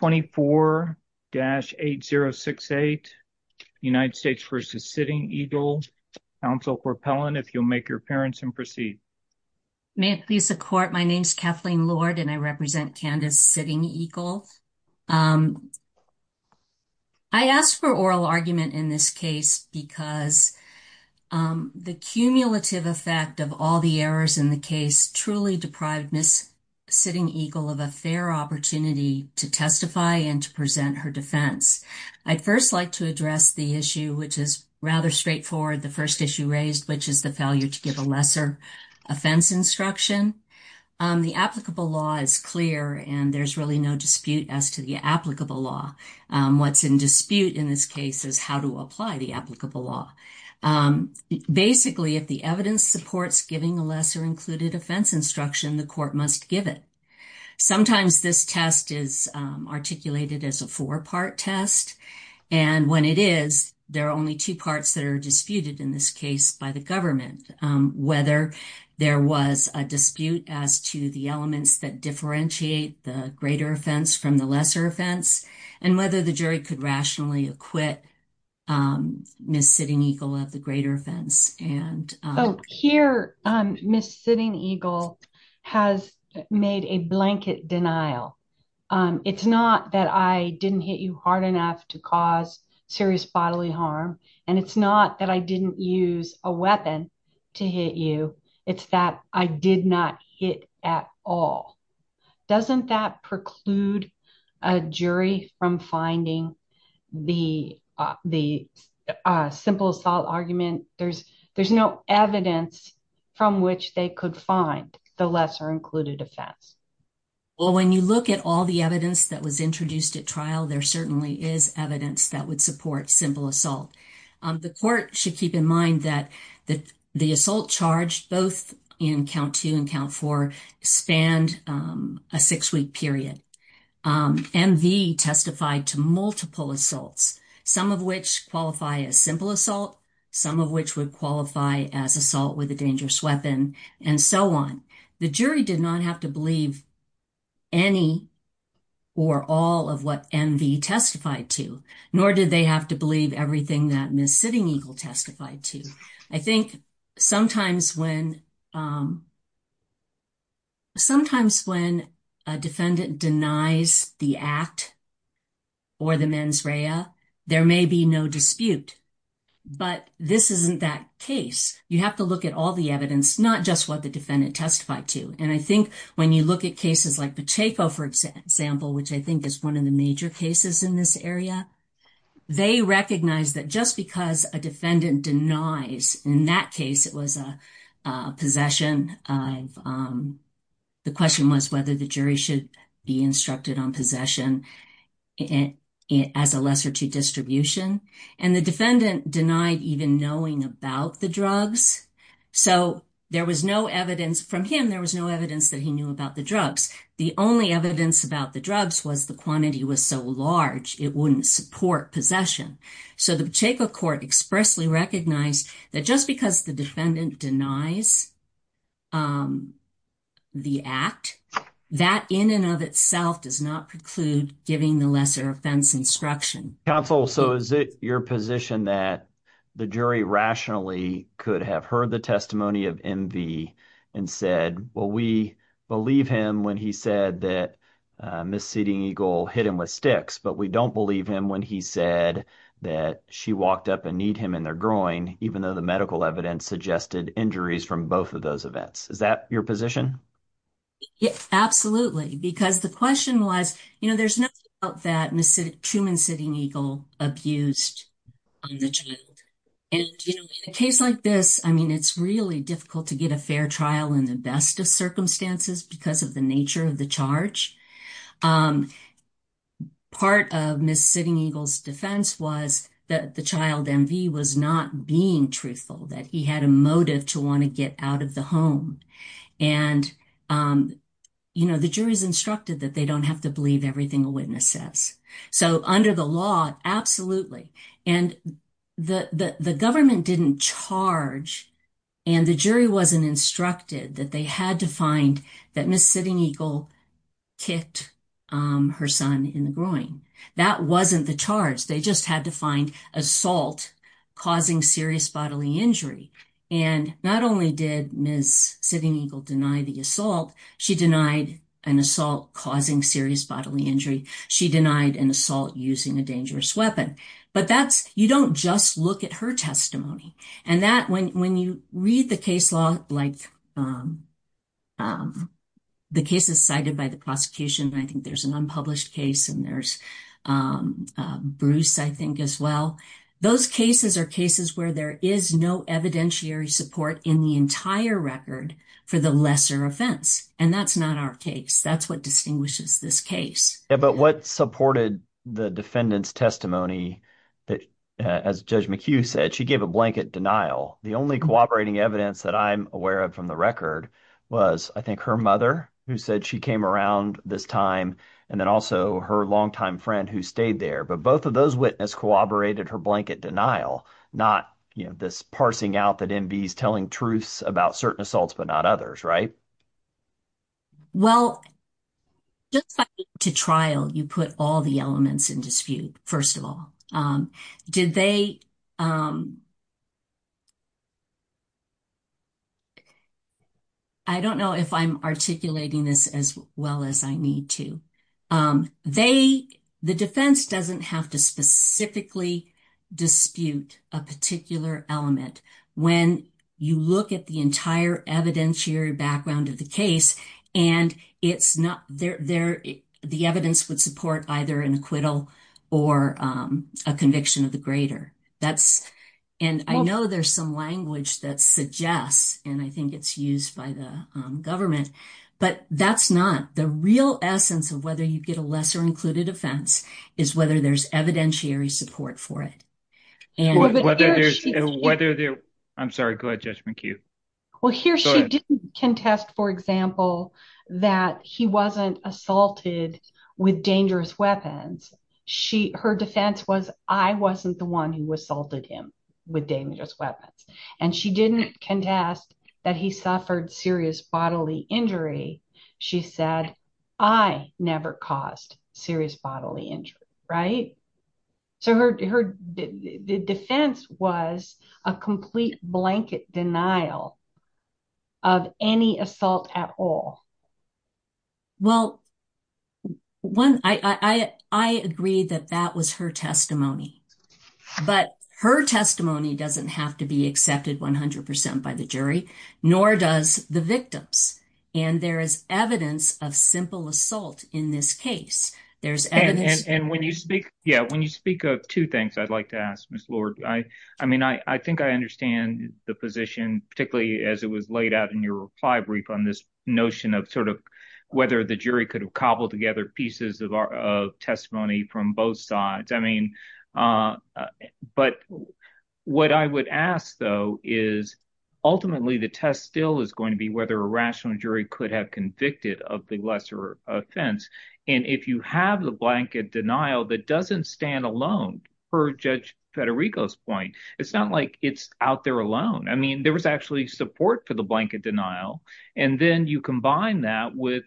24-8068 United States v. Sitting Eagle. Counsel Corpellin, if you'll make your appearance and proceed. May it please the court, my name is Kathleen Lord and I represent Candace Sitting Eagle. I asked for oral argument in this case because the cumulative effect of all the errors in the case truly deprived Ms. Sitting Eagle of a fair opportunity to testify and to present her defense. I'd first like to address the issue which is rather straightforward the first issue raised which is the failure to give a lesser offense instruction. The applicable law is clear and there's really no dispute as to the applicable law. What's in dispute in this case is how to apply the applicable law. Basically if the evidence supports giving a lesser included offense instruction the court must give it. Sometimes this test is articulated as a four-part test and when it is there are only two parts that are disputed in this case by the government. Whether there was a dispute as to the elements that differentiate the greater offense from the lesser offense and whether the jury could rationally acquit Ms. Sitting Eagle of the greater offense. Oh, here Ms. Sitting Eagle has made a blanket denial. It's not that I didn't hit you hard enough to cause serious bodily harm and it's not that I didn't use a weapon to hit you it's that I did not hit at all. Doesn't that preclude a jury from finding the the simple assault argument? There's there's no evidence from which they could find the lesser included offense. Well when you look at all the evidence that was introduced at trial there certainly is evidence that would support simple assault. The court should keep in mind that that the assault charged both in count two and count four spanned a six-week period. MV testified to multiple assaults some of which qualify as simple assault some of which would qualify as assault with a dangerous weapon and so on. The jury did not have to believe any or all of what MV testified to nor did they have to believe everything that Ms. Sitting Eagle testified to. I think sometimes when sometimes when a defendant denies the act or the mens rea there may be no dispute but this isn't that case. You have to look at all the evidence not just what the defendant testified to and I think when you look at cases like Pacheco for example which I think is one of the major cases in this area they recognize that just because a defendant denies in that case it was a possession of the question was whether the jury should be instructed on possession it as a lesser to distribution and the defendant denied even knowing about the drugs so there was no evidence from him there was no evidence that he knew about the drugs the only evidence about the drugs was the quantity was so large it wouldn't support possession so the Pacheco court expressly recognized that just because the defendant denies the act that in and of itself does not preclude giving the lesser offense instruction. Counsel so is it your position that the jury rationally could have heard the testimony of MV and said well we believe him when he said that Ms. Sitting Eagle hit him with sticks but we don't believe him when he said that she walked up and kneed him in their groin even though the medical evidence suggested injuries from both of those You know there's no doubt that Ms. Truman Sitting Eagle abused the child and in a case like this I mean it's really difficult to get a fair trial in the best of circumstances because of the nature of the charge. Part of Ms. Sitting Eagles defense was that the child MV was not being truthful that he had a motive to want to get out of the home and you instructed that they don't have to believe everything a witness says so under the law absolutely and the the government didn't charge and the jury wasn't instructed that they had to find that Ms. Sitting Eagle kicked her son in the groin that wasn't the charge they just had to find assault causing serious bodily injury and not only did Ms. Sitting Eagle deny the assault she denied an assault causing serious bodily injury she denied an assault using a dangerous weapon but that's you don't just look at her testimony and that when when you read the case law like the cases cited by the prosecution I think there's an unpublished case and there's Bruce I think as well those cases are cases where there is no evidentiary support in the entire record for the offense and that's not our case that's what distinguishes this case but what supported the defendant's testimony that as Judge McHugh said she gave a blanket denial the only cooperating evidence that I'm aware of from the record was I think her mother who said she came around this time and then also her longtime friend who stayed there but both of those witness corroborated her blanket denial not you know this parsing out that MV's telling truths about certain assaults but not others right well just to trial you put all the elements in dispute first of all did they I don't know if I'm articulating this as well as I need to they the defense doesn't have to specifically dispute a particular element when you look at the entire evidentiary background of the case and it's not there there the evidence would support either an acquittal or a conviction of the greater that's and I know there's some language that suggests and I think it's used by the government but that's not the real essence of whether you get a lesser included offense is whether there's evidentiary support for it and whether they're I'm sorry good judgment you well here she can test for example that he wasn't assaulted with dangerous weapons she her defense was I wasn't the one who assaulted him with dangerous weapons and she didn't contest that he suffered serious bodily injury she said I never caused serious bodily injury right so her defense was a complete blanket denial of any assault at all well when I I agreed that that was her testimony but her testimony doesn't have to be accepted 100% by the jury nor does the victims and there is evidence of simple assault in this case there's and when you speak yeah when you speak of two things I'd like to ask miss Lord I I mean I I think I understand the position particularly as it was laid out in your reply brief on this notion of sort of whether the jury could have cobbled together pieces of our testimony from both sides I mean but what I would ask though is ultimately the test still is going to be whether a rational jury could have convicted of the lesser offense and if you have the blanket denial that doesn't stand alone for judge Federico's point it's not like it's out there alone I mean there was actually support for the blanket denial and then you combine that with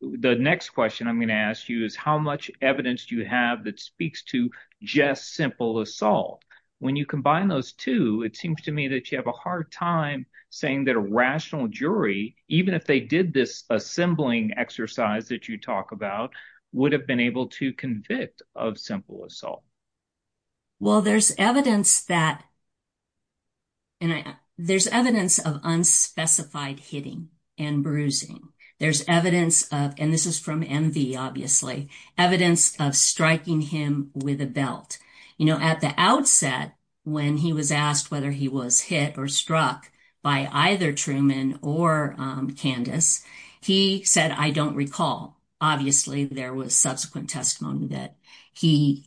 the next question I'm going to ask you is how much evidence do you have that speaks to just simple assault when you combine those two it seems to me that you have a hard time saying that a rational jury even if they did this assembling exercise that you talk about would have been able to convict of simple assault well there's evidence that and I there's evidence of unspecified hitting and bruising there's evidence of and this is from envy obviously evidence of striking him with a belt you know at the outset when he was asked whether he was hit or struck by either Truman or Candace he said I don't recall obviously there was subsequent testimony that he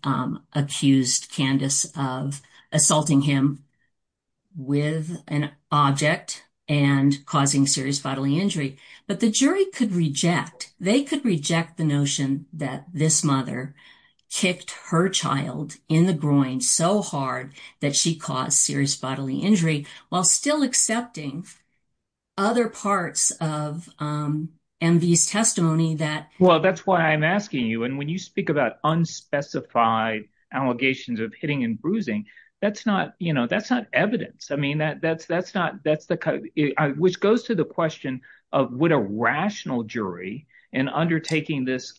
accused Candace of assaulting him with an object and causing serious bodily injury but the jury could reject they could reject the notion that this mother kicked her child in the groin so hard that she caused serious bodily injury while still accepting other parts of MV's testimony that well that's why I'm asking you and when you speak about unspecified allegations of hitting and bruising that's not you know that's not evidence I mean that that's that's not that's the cut which goes to the question of what a rational jury and undertaking this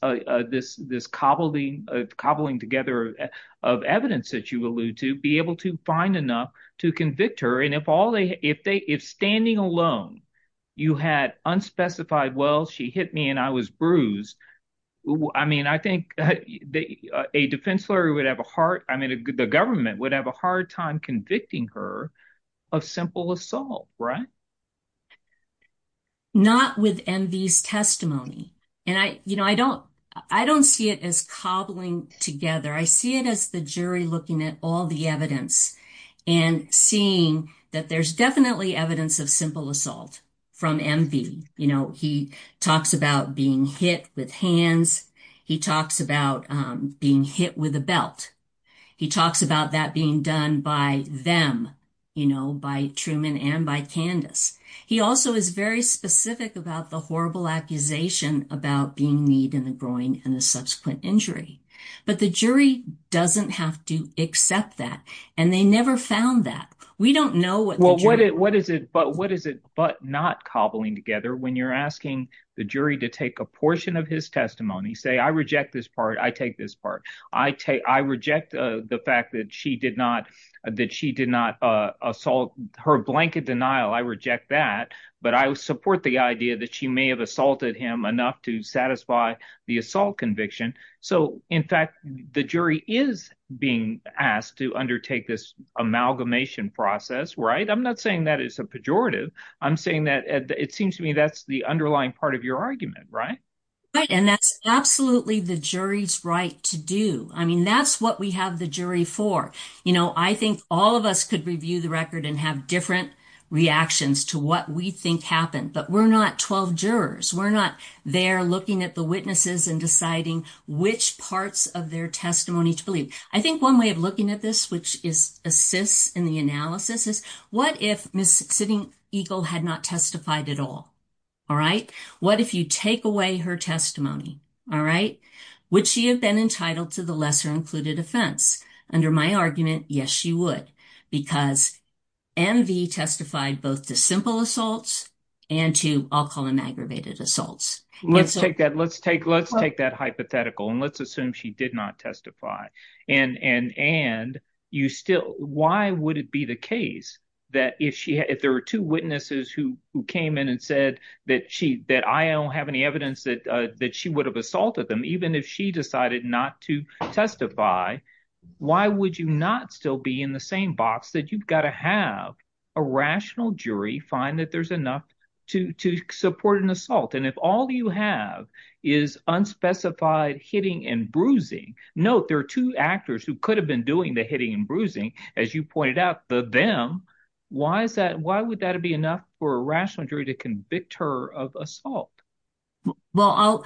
this cobbling cobbling together of evidence that you allude to be able to find enough to convict her and if all they if they if standing alone you had unspecified well she hit me and I was bruised I mean I think that a defense lawyer would have a heart I mean a good the government would have a hard time convicting her of simple assault right not within these testimony and I you know I don't I don't see it as cobbling together I see it as the jury looking at all the evidence and seeing that there's definitely evidence of simple assault from MV you know he talks about being hit with hands he talks about being hit with a belt he talks about that being done by them you know by Truman and by Candace he also is very specific about the horrible accusation about being need in the groin and the subsequent injury but the jury doesn't have to accept that and they never found that we don't know what well what it what is it but what is it but not cobbling together when you're asking the jury to take a portion of his testimony say I reject this part I take this part I take I reject the fact that she did not that she did not assault her blanket denial I reject that but I support the idea that she may have assaulted him enough to satisfy the assault conviction so in fact the jury is being asked to undertake this amalgamation process right I'm not saying that it's a pejorative I'm saying that it seems to me that's the underlying part of your argument right and that's absolutely the jury's right to do I mean that's what we have the jury for you know I think all of us could review the record and have different reactions to what we think happened but we're not 12 jurors we're not they're looking at the witnesses and deciding which parts of their testimony to believe I think one way of looking at this which is assists in the analysis is what if miss sitting Eagle had not testified at all all right what if you take away her testimony all right would she have been entitled to the lesser included offense under my argument yes she would because MV testified both the simple assaults and to I'll call them aggravated assaults let's take that let's take let's take that hypothetical and let's assume she did not testify and and and you still why would it be the case that if she had if there were two witnesses who came in and said that she that I don't have any evidence that that she would have assaulted them even if she decided not to testify why would you not still be in the same box that you've got to have a rational jury find that there's enough to support an assault and if all you have is unspecified hitting and bruising note there are two actors who could have been doing the hitting and bruising as you pointed out the them why is that why would that be enough for a rational jury to convict her of assault well I'll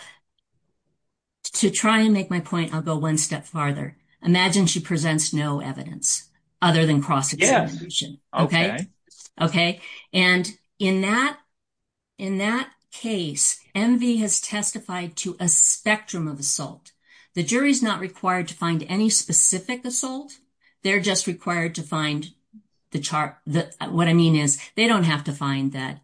to try and make my point I'll go one step farther imagine she presents no evidence other than cross-examination okay okay and in that in that case MV has testified to a spectrum of assault the jury is not required to find any specific assault they're just required to find the chart that what I mean is they don't have to find that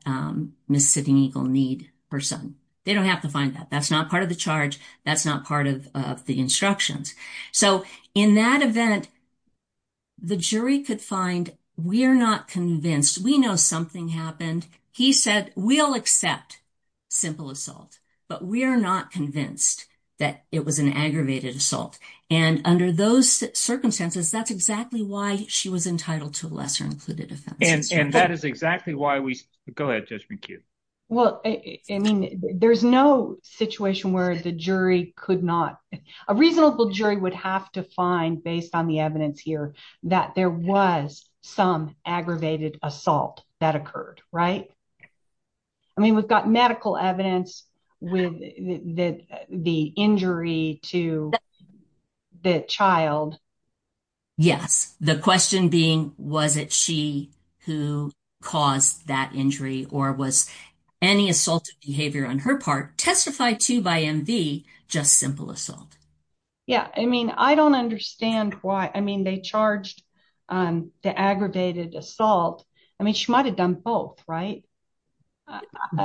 Miss Sitting Eagle need person they don't have to find that that's not part of the charge that's not part of the so in that event the jury could find we are not convinced we know something happened he said we'll accept simple assault but we are not convinced that it was an aggravated assault and under those circumstances that's exactly why she was entitled to a lesser included defense and that is exactly why we go ahead just be cute well I mean there's no situation where the jury could not a reasonable jury would have to find based on the evidence here that there was some aggravated assault that occurred right I mean we've got medical evidence with the injury to the child yes the question being was it she who caused that injury or was any assault behavior on her part testified to by MV just simple assault yeah I mean I don't understand why I mean they charged the aggravated assault I mean she might have done both right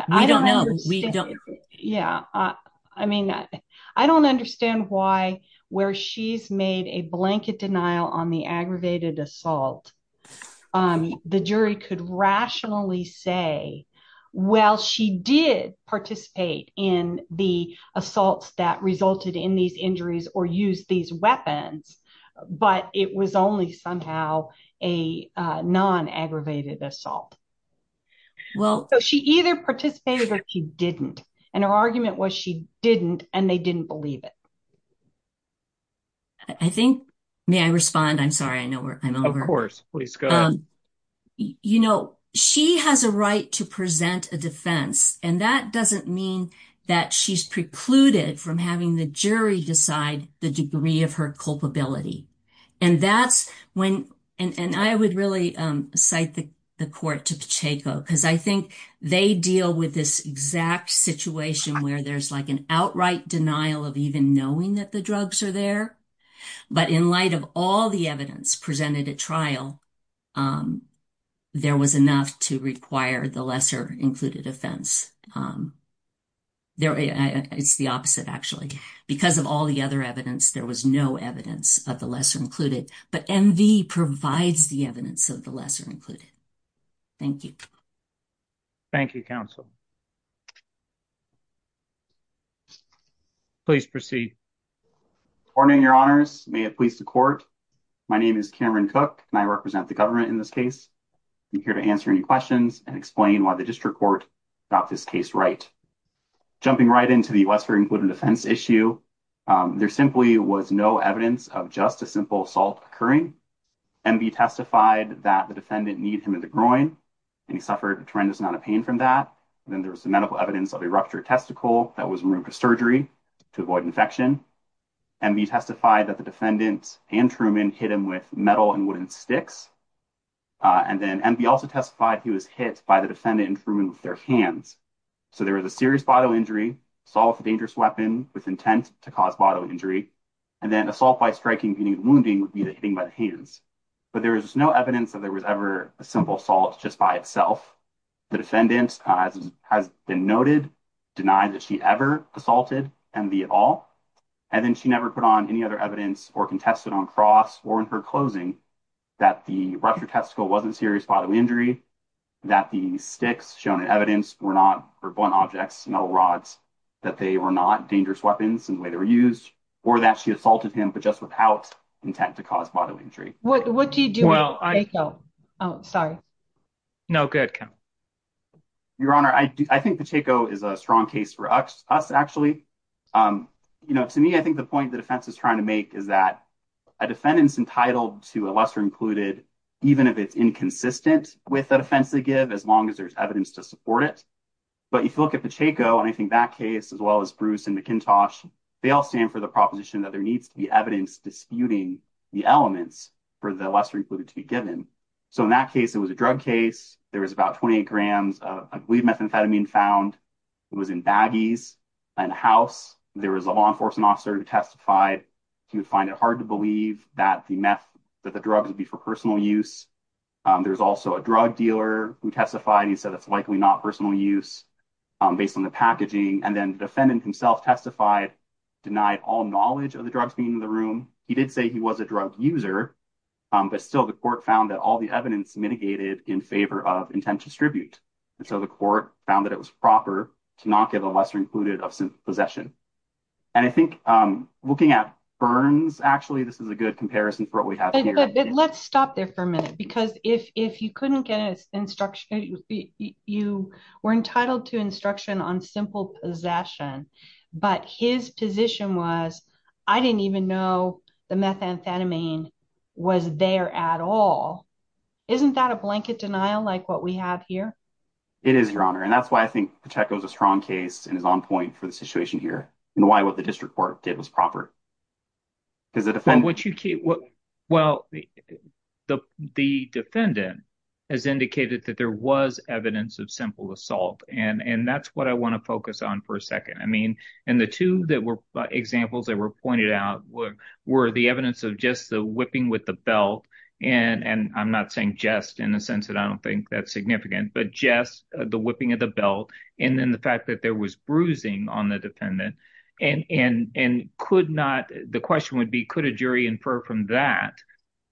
I don't know we don't yeah I mean I don't understand why where she's made a blanket denial on the aggravated assault the jury could rationally say well she did participate in the assaults that resulted in these injuries or use these weapons but it was only somehow a non aggravated assault well she either participated or she didn't and her argument was she didn't and they didn't believe it I think may I respond I'm sorry I know we're of course please go you know she has a right to present a defense and that doesn't mean that she's precluded from having the jury decide the degree of her culpability and that's when and and I would really cite the court to Pacheco because I think they deal with this exact situation where there's like an outright denial of even knowing that the drugs are there but in light of all the evidence presented at trial there was enough to require the lesser included offense there it's the opposite actually because of all the other evidence there was no evidence of the lesser included but MV provides the evidence of the lesser included thank you Thank You counsel please proceed warning your honors may it please the court my name is Cameron cook and I represent the government in this case here to answer any questions and explain why the district court got this case right jumping right into the US for included defense issue there simply was no evidence of just a simple assault occurring and be testified that the defendant need him in the groin and he suffered a tremendous amount of pain from that then there was the medical evidence of a ruptured testicle that was removed for surgery to avoid infection and be testified that the defendant and Truman hit him with metal and wooden sticks and then and be also testified he was hit by the defendant and Truman with their hands so there was a serious bodily injury saw the dangerous weapon with intent to cause bodily injury and then assault by striking meaning wounding would be the hitting by the hands but there was no evidence that there was ever a simple salt just by itself the defendant has been noted denied that she ever assaulted and be and then she never put on any other evidence or contested on cross or in her closing that the ruptured testicle wasn't serious bodily injury that the sticks shown in evidence were not for blunt objects metal rods that they were not dangerous weapons in the way they were used or that she assaulted him but just without intent to cause bodily injury what do you do well I don't know oh sorry no good your honor I do I think the is a strong case for us actually you know to me I think the point the defense is trying to make is that a defendant's entitled to a lesser included even if it's inconsistent with the defense they give as long as there's evidence to support it but if you look at the Chaco and I think that case as well as Bruce and McIntosh they all stand for the proposition that there needs to be evidence disputing the elements for the lesser included to be given so in that case it was a drug case there was about 28 grams of lead methamphetamine found it was in baggies and house there was a law enforcement officer who testified he would find it hard to believe that the meth that the drugs would be for personal use there's also a drug dealer who testified he said it's likely not personal use based on the packaging and then defendant himself testified denied all knowledge of the drugs being in the room he did say he was a drug user but still the court found that all the evidence mitigated in favor of intent distribute and so the court found that it was proper to not give a lesser included of some possession and I think looking at burns actually this is a good comparison for what we have let's stop there for a minute because if you couldn't get instruction you were entitled to instruction on simple possession but his position was I didn't even know the methamphetamine was there at all isn't that a blanket denial like what we have here it is your honor and that's why I think the check goes a strong case and is on point for the situation here and why what the district court did was proper is it what you keep what well the defendant has indicated that there was evidence of simple assault and and that's what I want to focus on for a second I mean and the two that were examples that were pointed out what were the evidence of just the with the belt and and I'm not saying just in the sense that I don't think that's significant but just the whipping of the belt and then the fact that there was bruising on the defendant and and and could not the question would be could a jury infer from that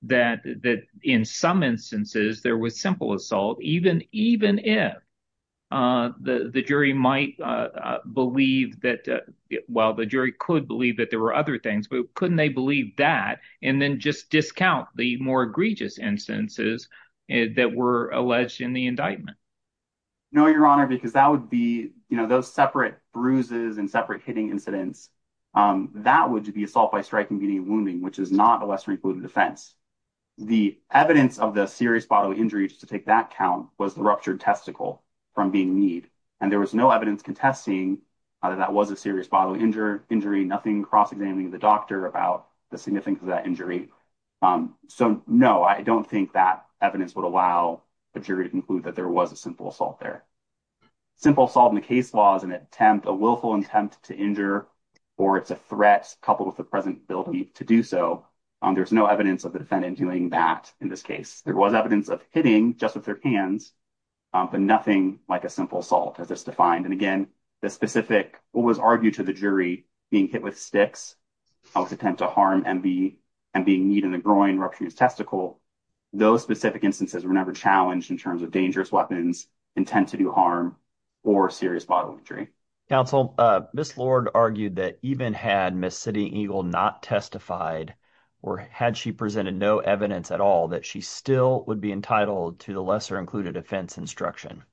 that that in some instances there was simple assault even even if the the jury might believe that well the jury could believe that there other things but couldn't they believe that and then just discount the more egregious instances and that were alleged in the indictment no your honor because that would be you know those separate bruises and separate hitting incidents that would be assault by striking beating wounding which is not a lesser included offense the evidence of the serious bodily injury just to take that count was the ruptured testicle from being need and there was no evidence contesting either that was a serious bodily injury injury nothing cross-examining the doctor about the significance of that injury so no I don't think that evidence would allow a jury to conclude that there was a simple assault there simple salt in the case laws and attempt a willful attempt to injure or it's a threat coupled with the present building to do so there's no evidence of the defendant doing that in this case there was evidence of hitting just with their hands but nothing like a simple salt has this defined and again the specific what was argued to the jury being hit with sticks I was attempt to harm and be and being need in the groin ruptures testicle those specific instances were never challenged in terms of dangerous weapons intent to do harm or serious bodily injury counsel miss Lord argued that even had Miss City Eagle not testified or had she presented no evidence at all that she still would be entitled to the lesser included offense instruction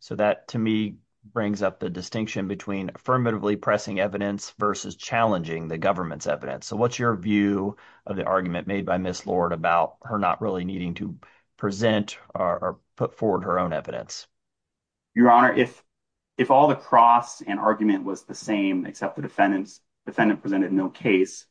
so that to me brings up the distinction between affirmatively pressing evidence versus challenging the government's evidence so what's your view of the argument made by miss Lord about her not really needing to present or put forward her own evidence your honor if if all the cross and argument was the same except the defendants defendant presented no case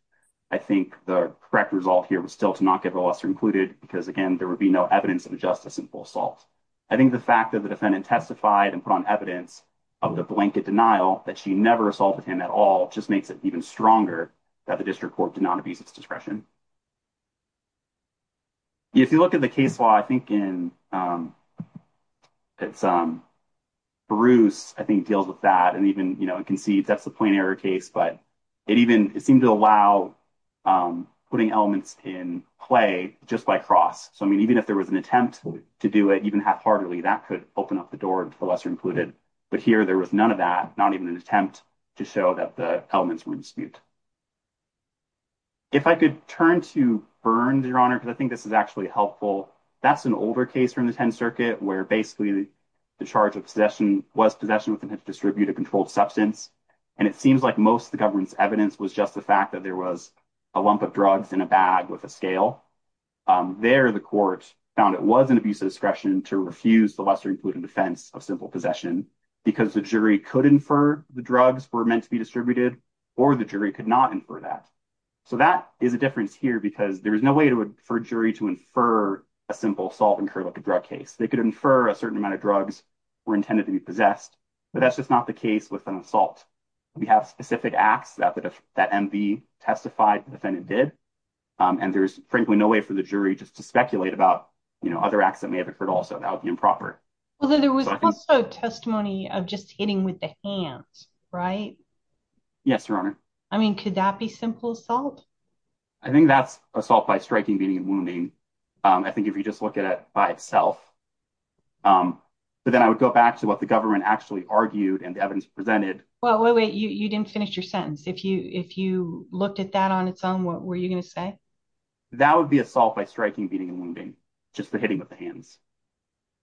I think the correct result here was still to not get the lesser included because again there would be no evidence of a justice in full salt I think the fact that the defendant testified and put on evidence of the blanket denial that she never assaulted him at all just makes it even stronger that the district court did not abuse its discretion if you look at the case law I think in it's um Bruce I think deals with that and even you know it concedes that's the point error case but it even seemed to allow putting elements in play just by cross so I mean even if there was an attempt to do it even half-heartedly that could open up the door to the lesser included but here there was none of that not even an attempt to show that the elements were in dispute if I could turn to burn your honor because I think this is actually helpful that's an older case from the 10th circuit where basically the charge of possession was possession with the pitch distributed controlled substance and it seems like most the government's evidence was just the fact that there was a lump of drugs in a bag with a scale there the court found it was an abuse of discretion to refuse the lesser included defense of simple possession because the jury could infer the drugs were meant to be distributed or the jury could not infer that so that is a difference here because there is no way to infer jury to infer a simple salt and curlicue drug case they could infer a certain amount of drugs were intended to be possessed but that's just not the case with an assault we have specific acts that that MV testified the defendant did and there's frankly no way for the jury just to speculate about you know other acts that may have occurred also that would be improper although there was also testimony of just hitting with the hands right yes your honor I mean could that be simple salt I think that's assault by striking beating and wounding I think if you just look at it by itself but then I would go back to what the government actually argued and the evidence presented well wait you didn't finish your sentence if you if you looked at that on its own what were you gonna say that would be a salt by striking beating and wounding just for hitting with the hands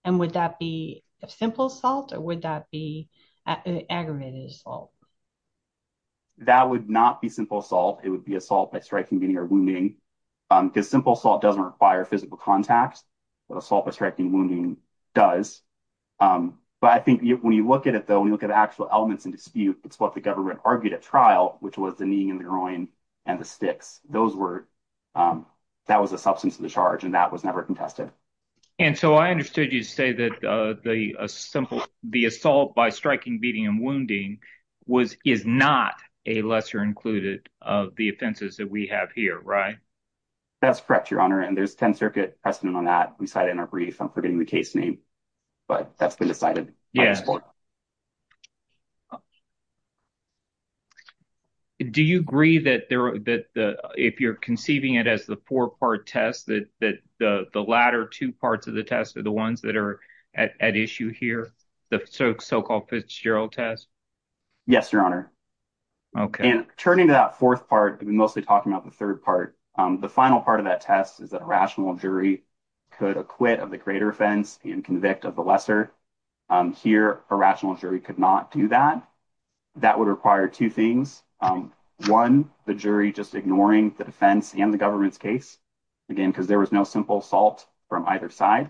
and would that be a simple salt or would that be aggravated assault that would not be simple salt it would be assault by striking beating or wounding because simple salt doesn't require physical contacts but assault by striking wounding does but I think when you look at it though when you look at actual elements in dispute it's what the government argued at trial which was the knee in the groin and the sticks those were that was a substance of the charge and that was never contested and so I understood you say that the simple the assault by striking beating and wounding was is not a lesser included of the offenses that we have here right that's correct your honor and there's 10 circuit precedent on that we cited in our brief I'm forgetting the case name but that's been decided yes do you agree that there that the if you're conceiving it as the four-part test that that the the latter two parts of the test are the ones that are at issue here the so-called Fitzgerald test yes your honor okay and turning that fourth part we mostly talking about the third part the final part of that test is that a rational jury could acquit of the greater offense and convict of the lesser here a rational jury could not do that that would require two things one the jury just ignoring the defense and the government's case again because there was no simple salt from either side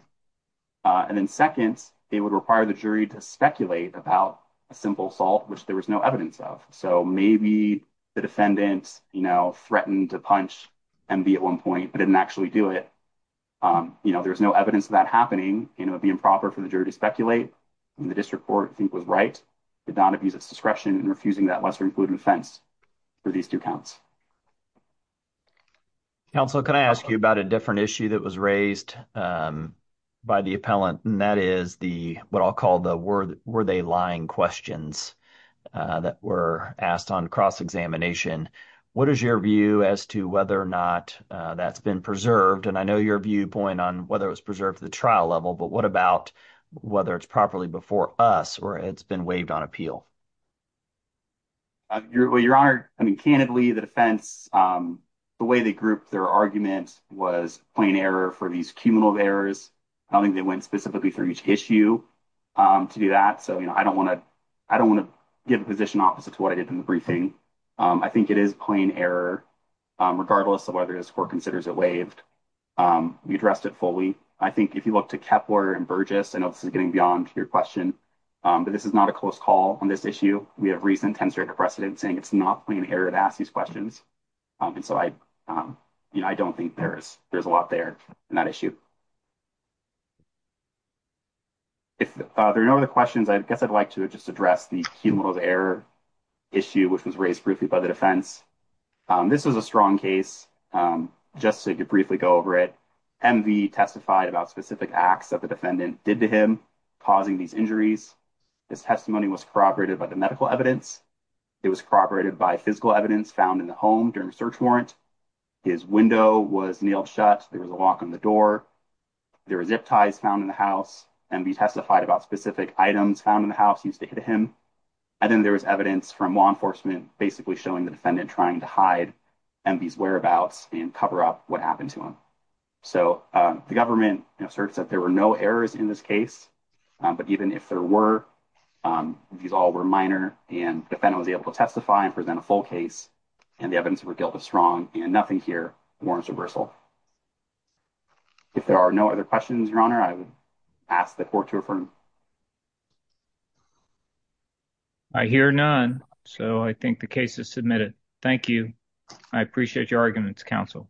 and then seconds it would require the jury to speculate about a simple salt which there was no evidence of so maybe the defendants you know threatened to punch and be at one point but didn't actually do it you know there's no evidence of that happening you know be improper for the jury to speculate the district court think was right did not abuse its discretion and refusing that lesser included offense for these two counts counsel can I ask you about a different issue that was raised by the appellant and that is the what I'll call the word were they lying questions that were asked on cross-examination what is your view as to whether or not that's been preserved and I know your viewpoint on whether it's preserved the trial level but what about whether it's properly before us or it's been waived on appeal your honor I mean candidly the defense the way they grouped their arguments was plain error for these cumulative errors I don't think they went specifically for each issue to do that so you know I don't want to I don't want to give a position opposite to what I did in the briefing I think it is plain error regardless of whether this court considers it waived we addressed it fully I think if you look to Kepler and Burgess I know this is getting beyond your question but this is not a close call on this issue we have recent tense rate of precedence saying it's not playing here to ask these questions and so I you know I don't think there's there's a lot there in that issue if there are no other questions I guess I'd like to just address the cumulative error issue which was raised briefly by the defense this was a strong case just so you could briefly go over it MV testified about specific acts of the defendant did to him causing these injuries this testimony was corroborated by the medical evidence it was corroborated by physical evidence found in the home during a search warrant his window was nailed shut there was a lock on the door there was zip ties found in the house and be testified about specific items found in the house used to hit him and then there was evidence from law enforcement basically showing the defendant trying to hide and these whereabouts and cover up what happened to him so the government asserts that there were no errors in this case but even if there were these all were minor and defendant was able to testify and present a full case and the evidence were guilty strong and nothing here warrants reversal if there are no other questions your honor I would ask the court to affirm I hear none so I think the case is submitted thank you I appreciate your arguments counsel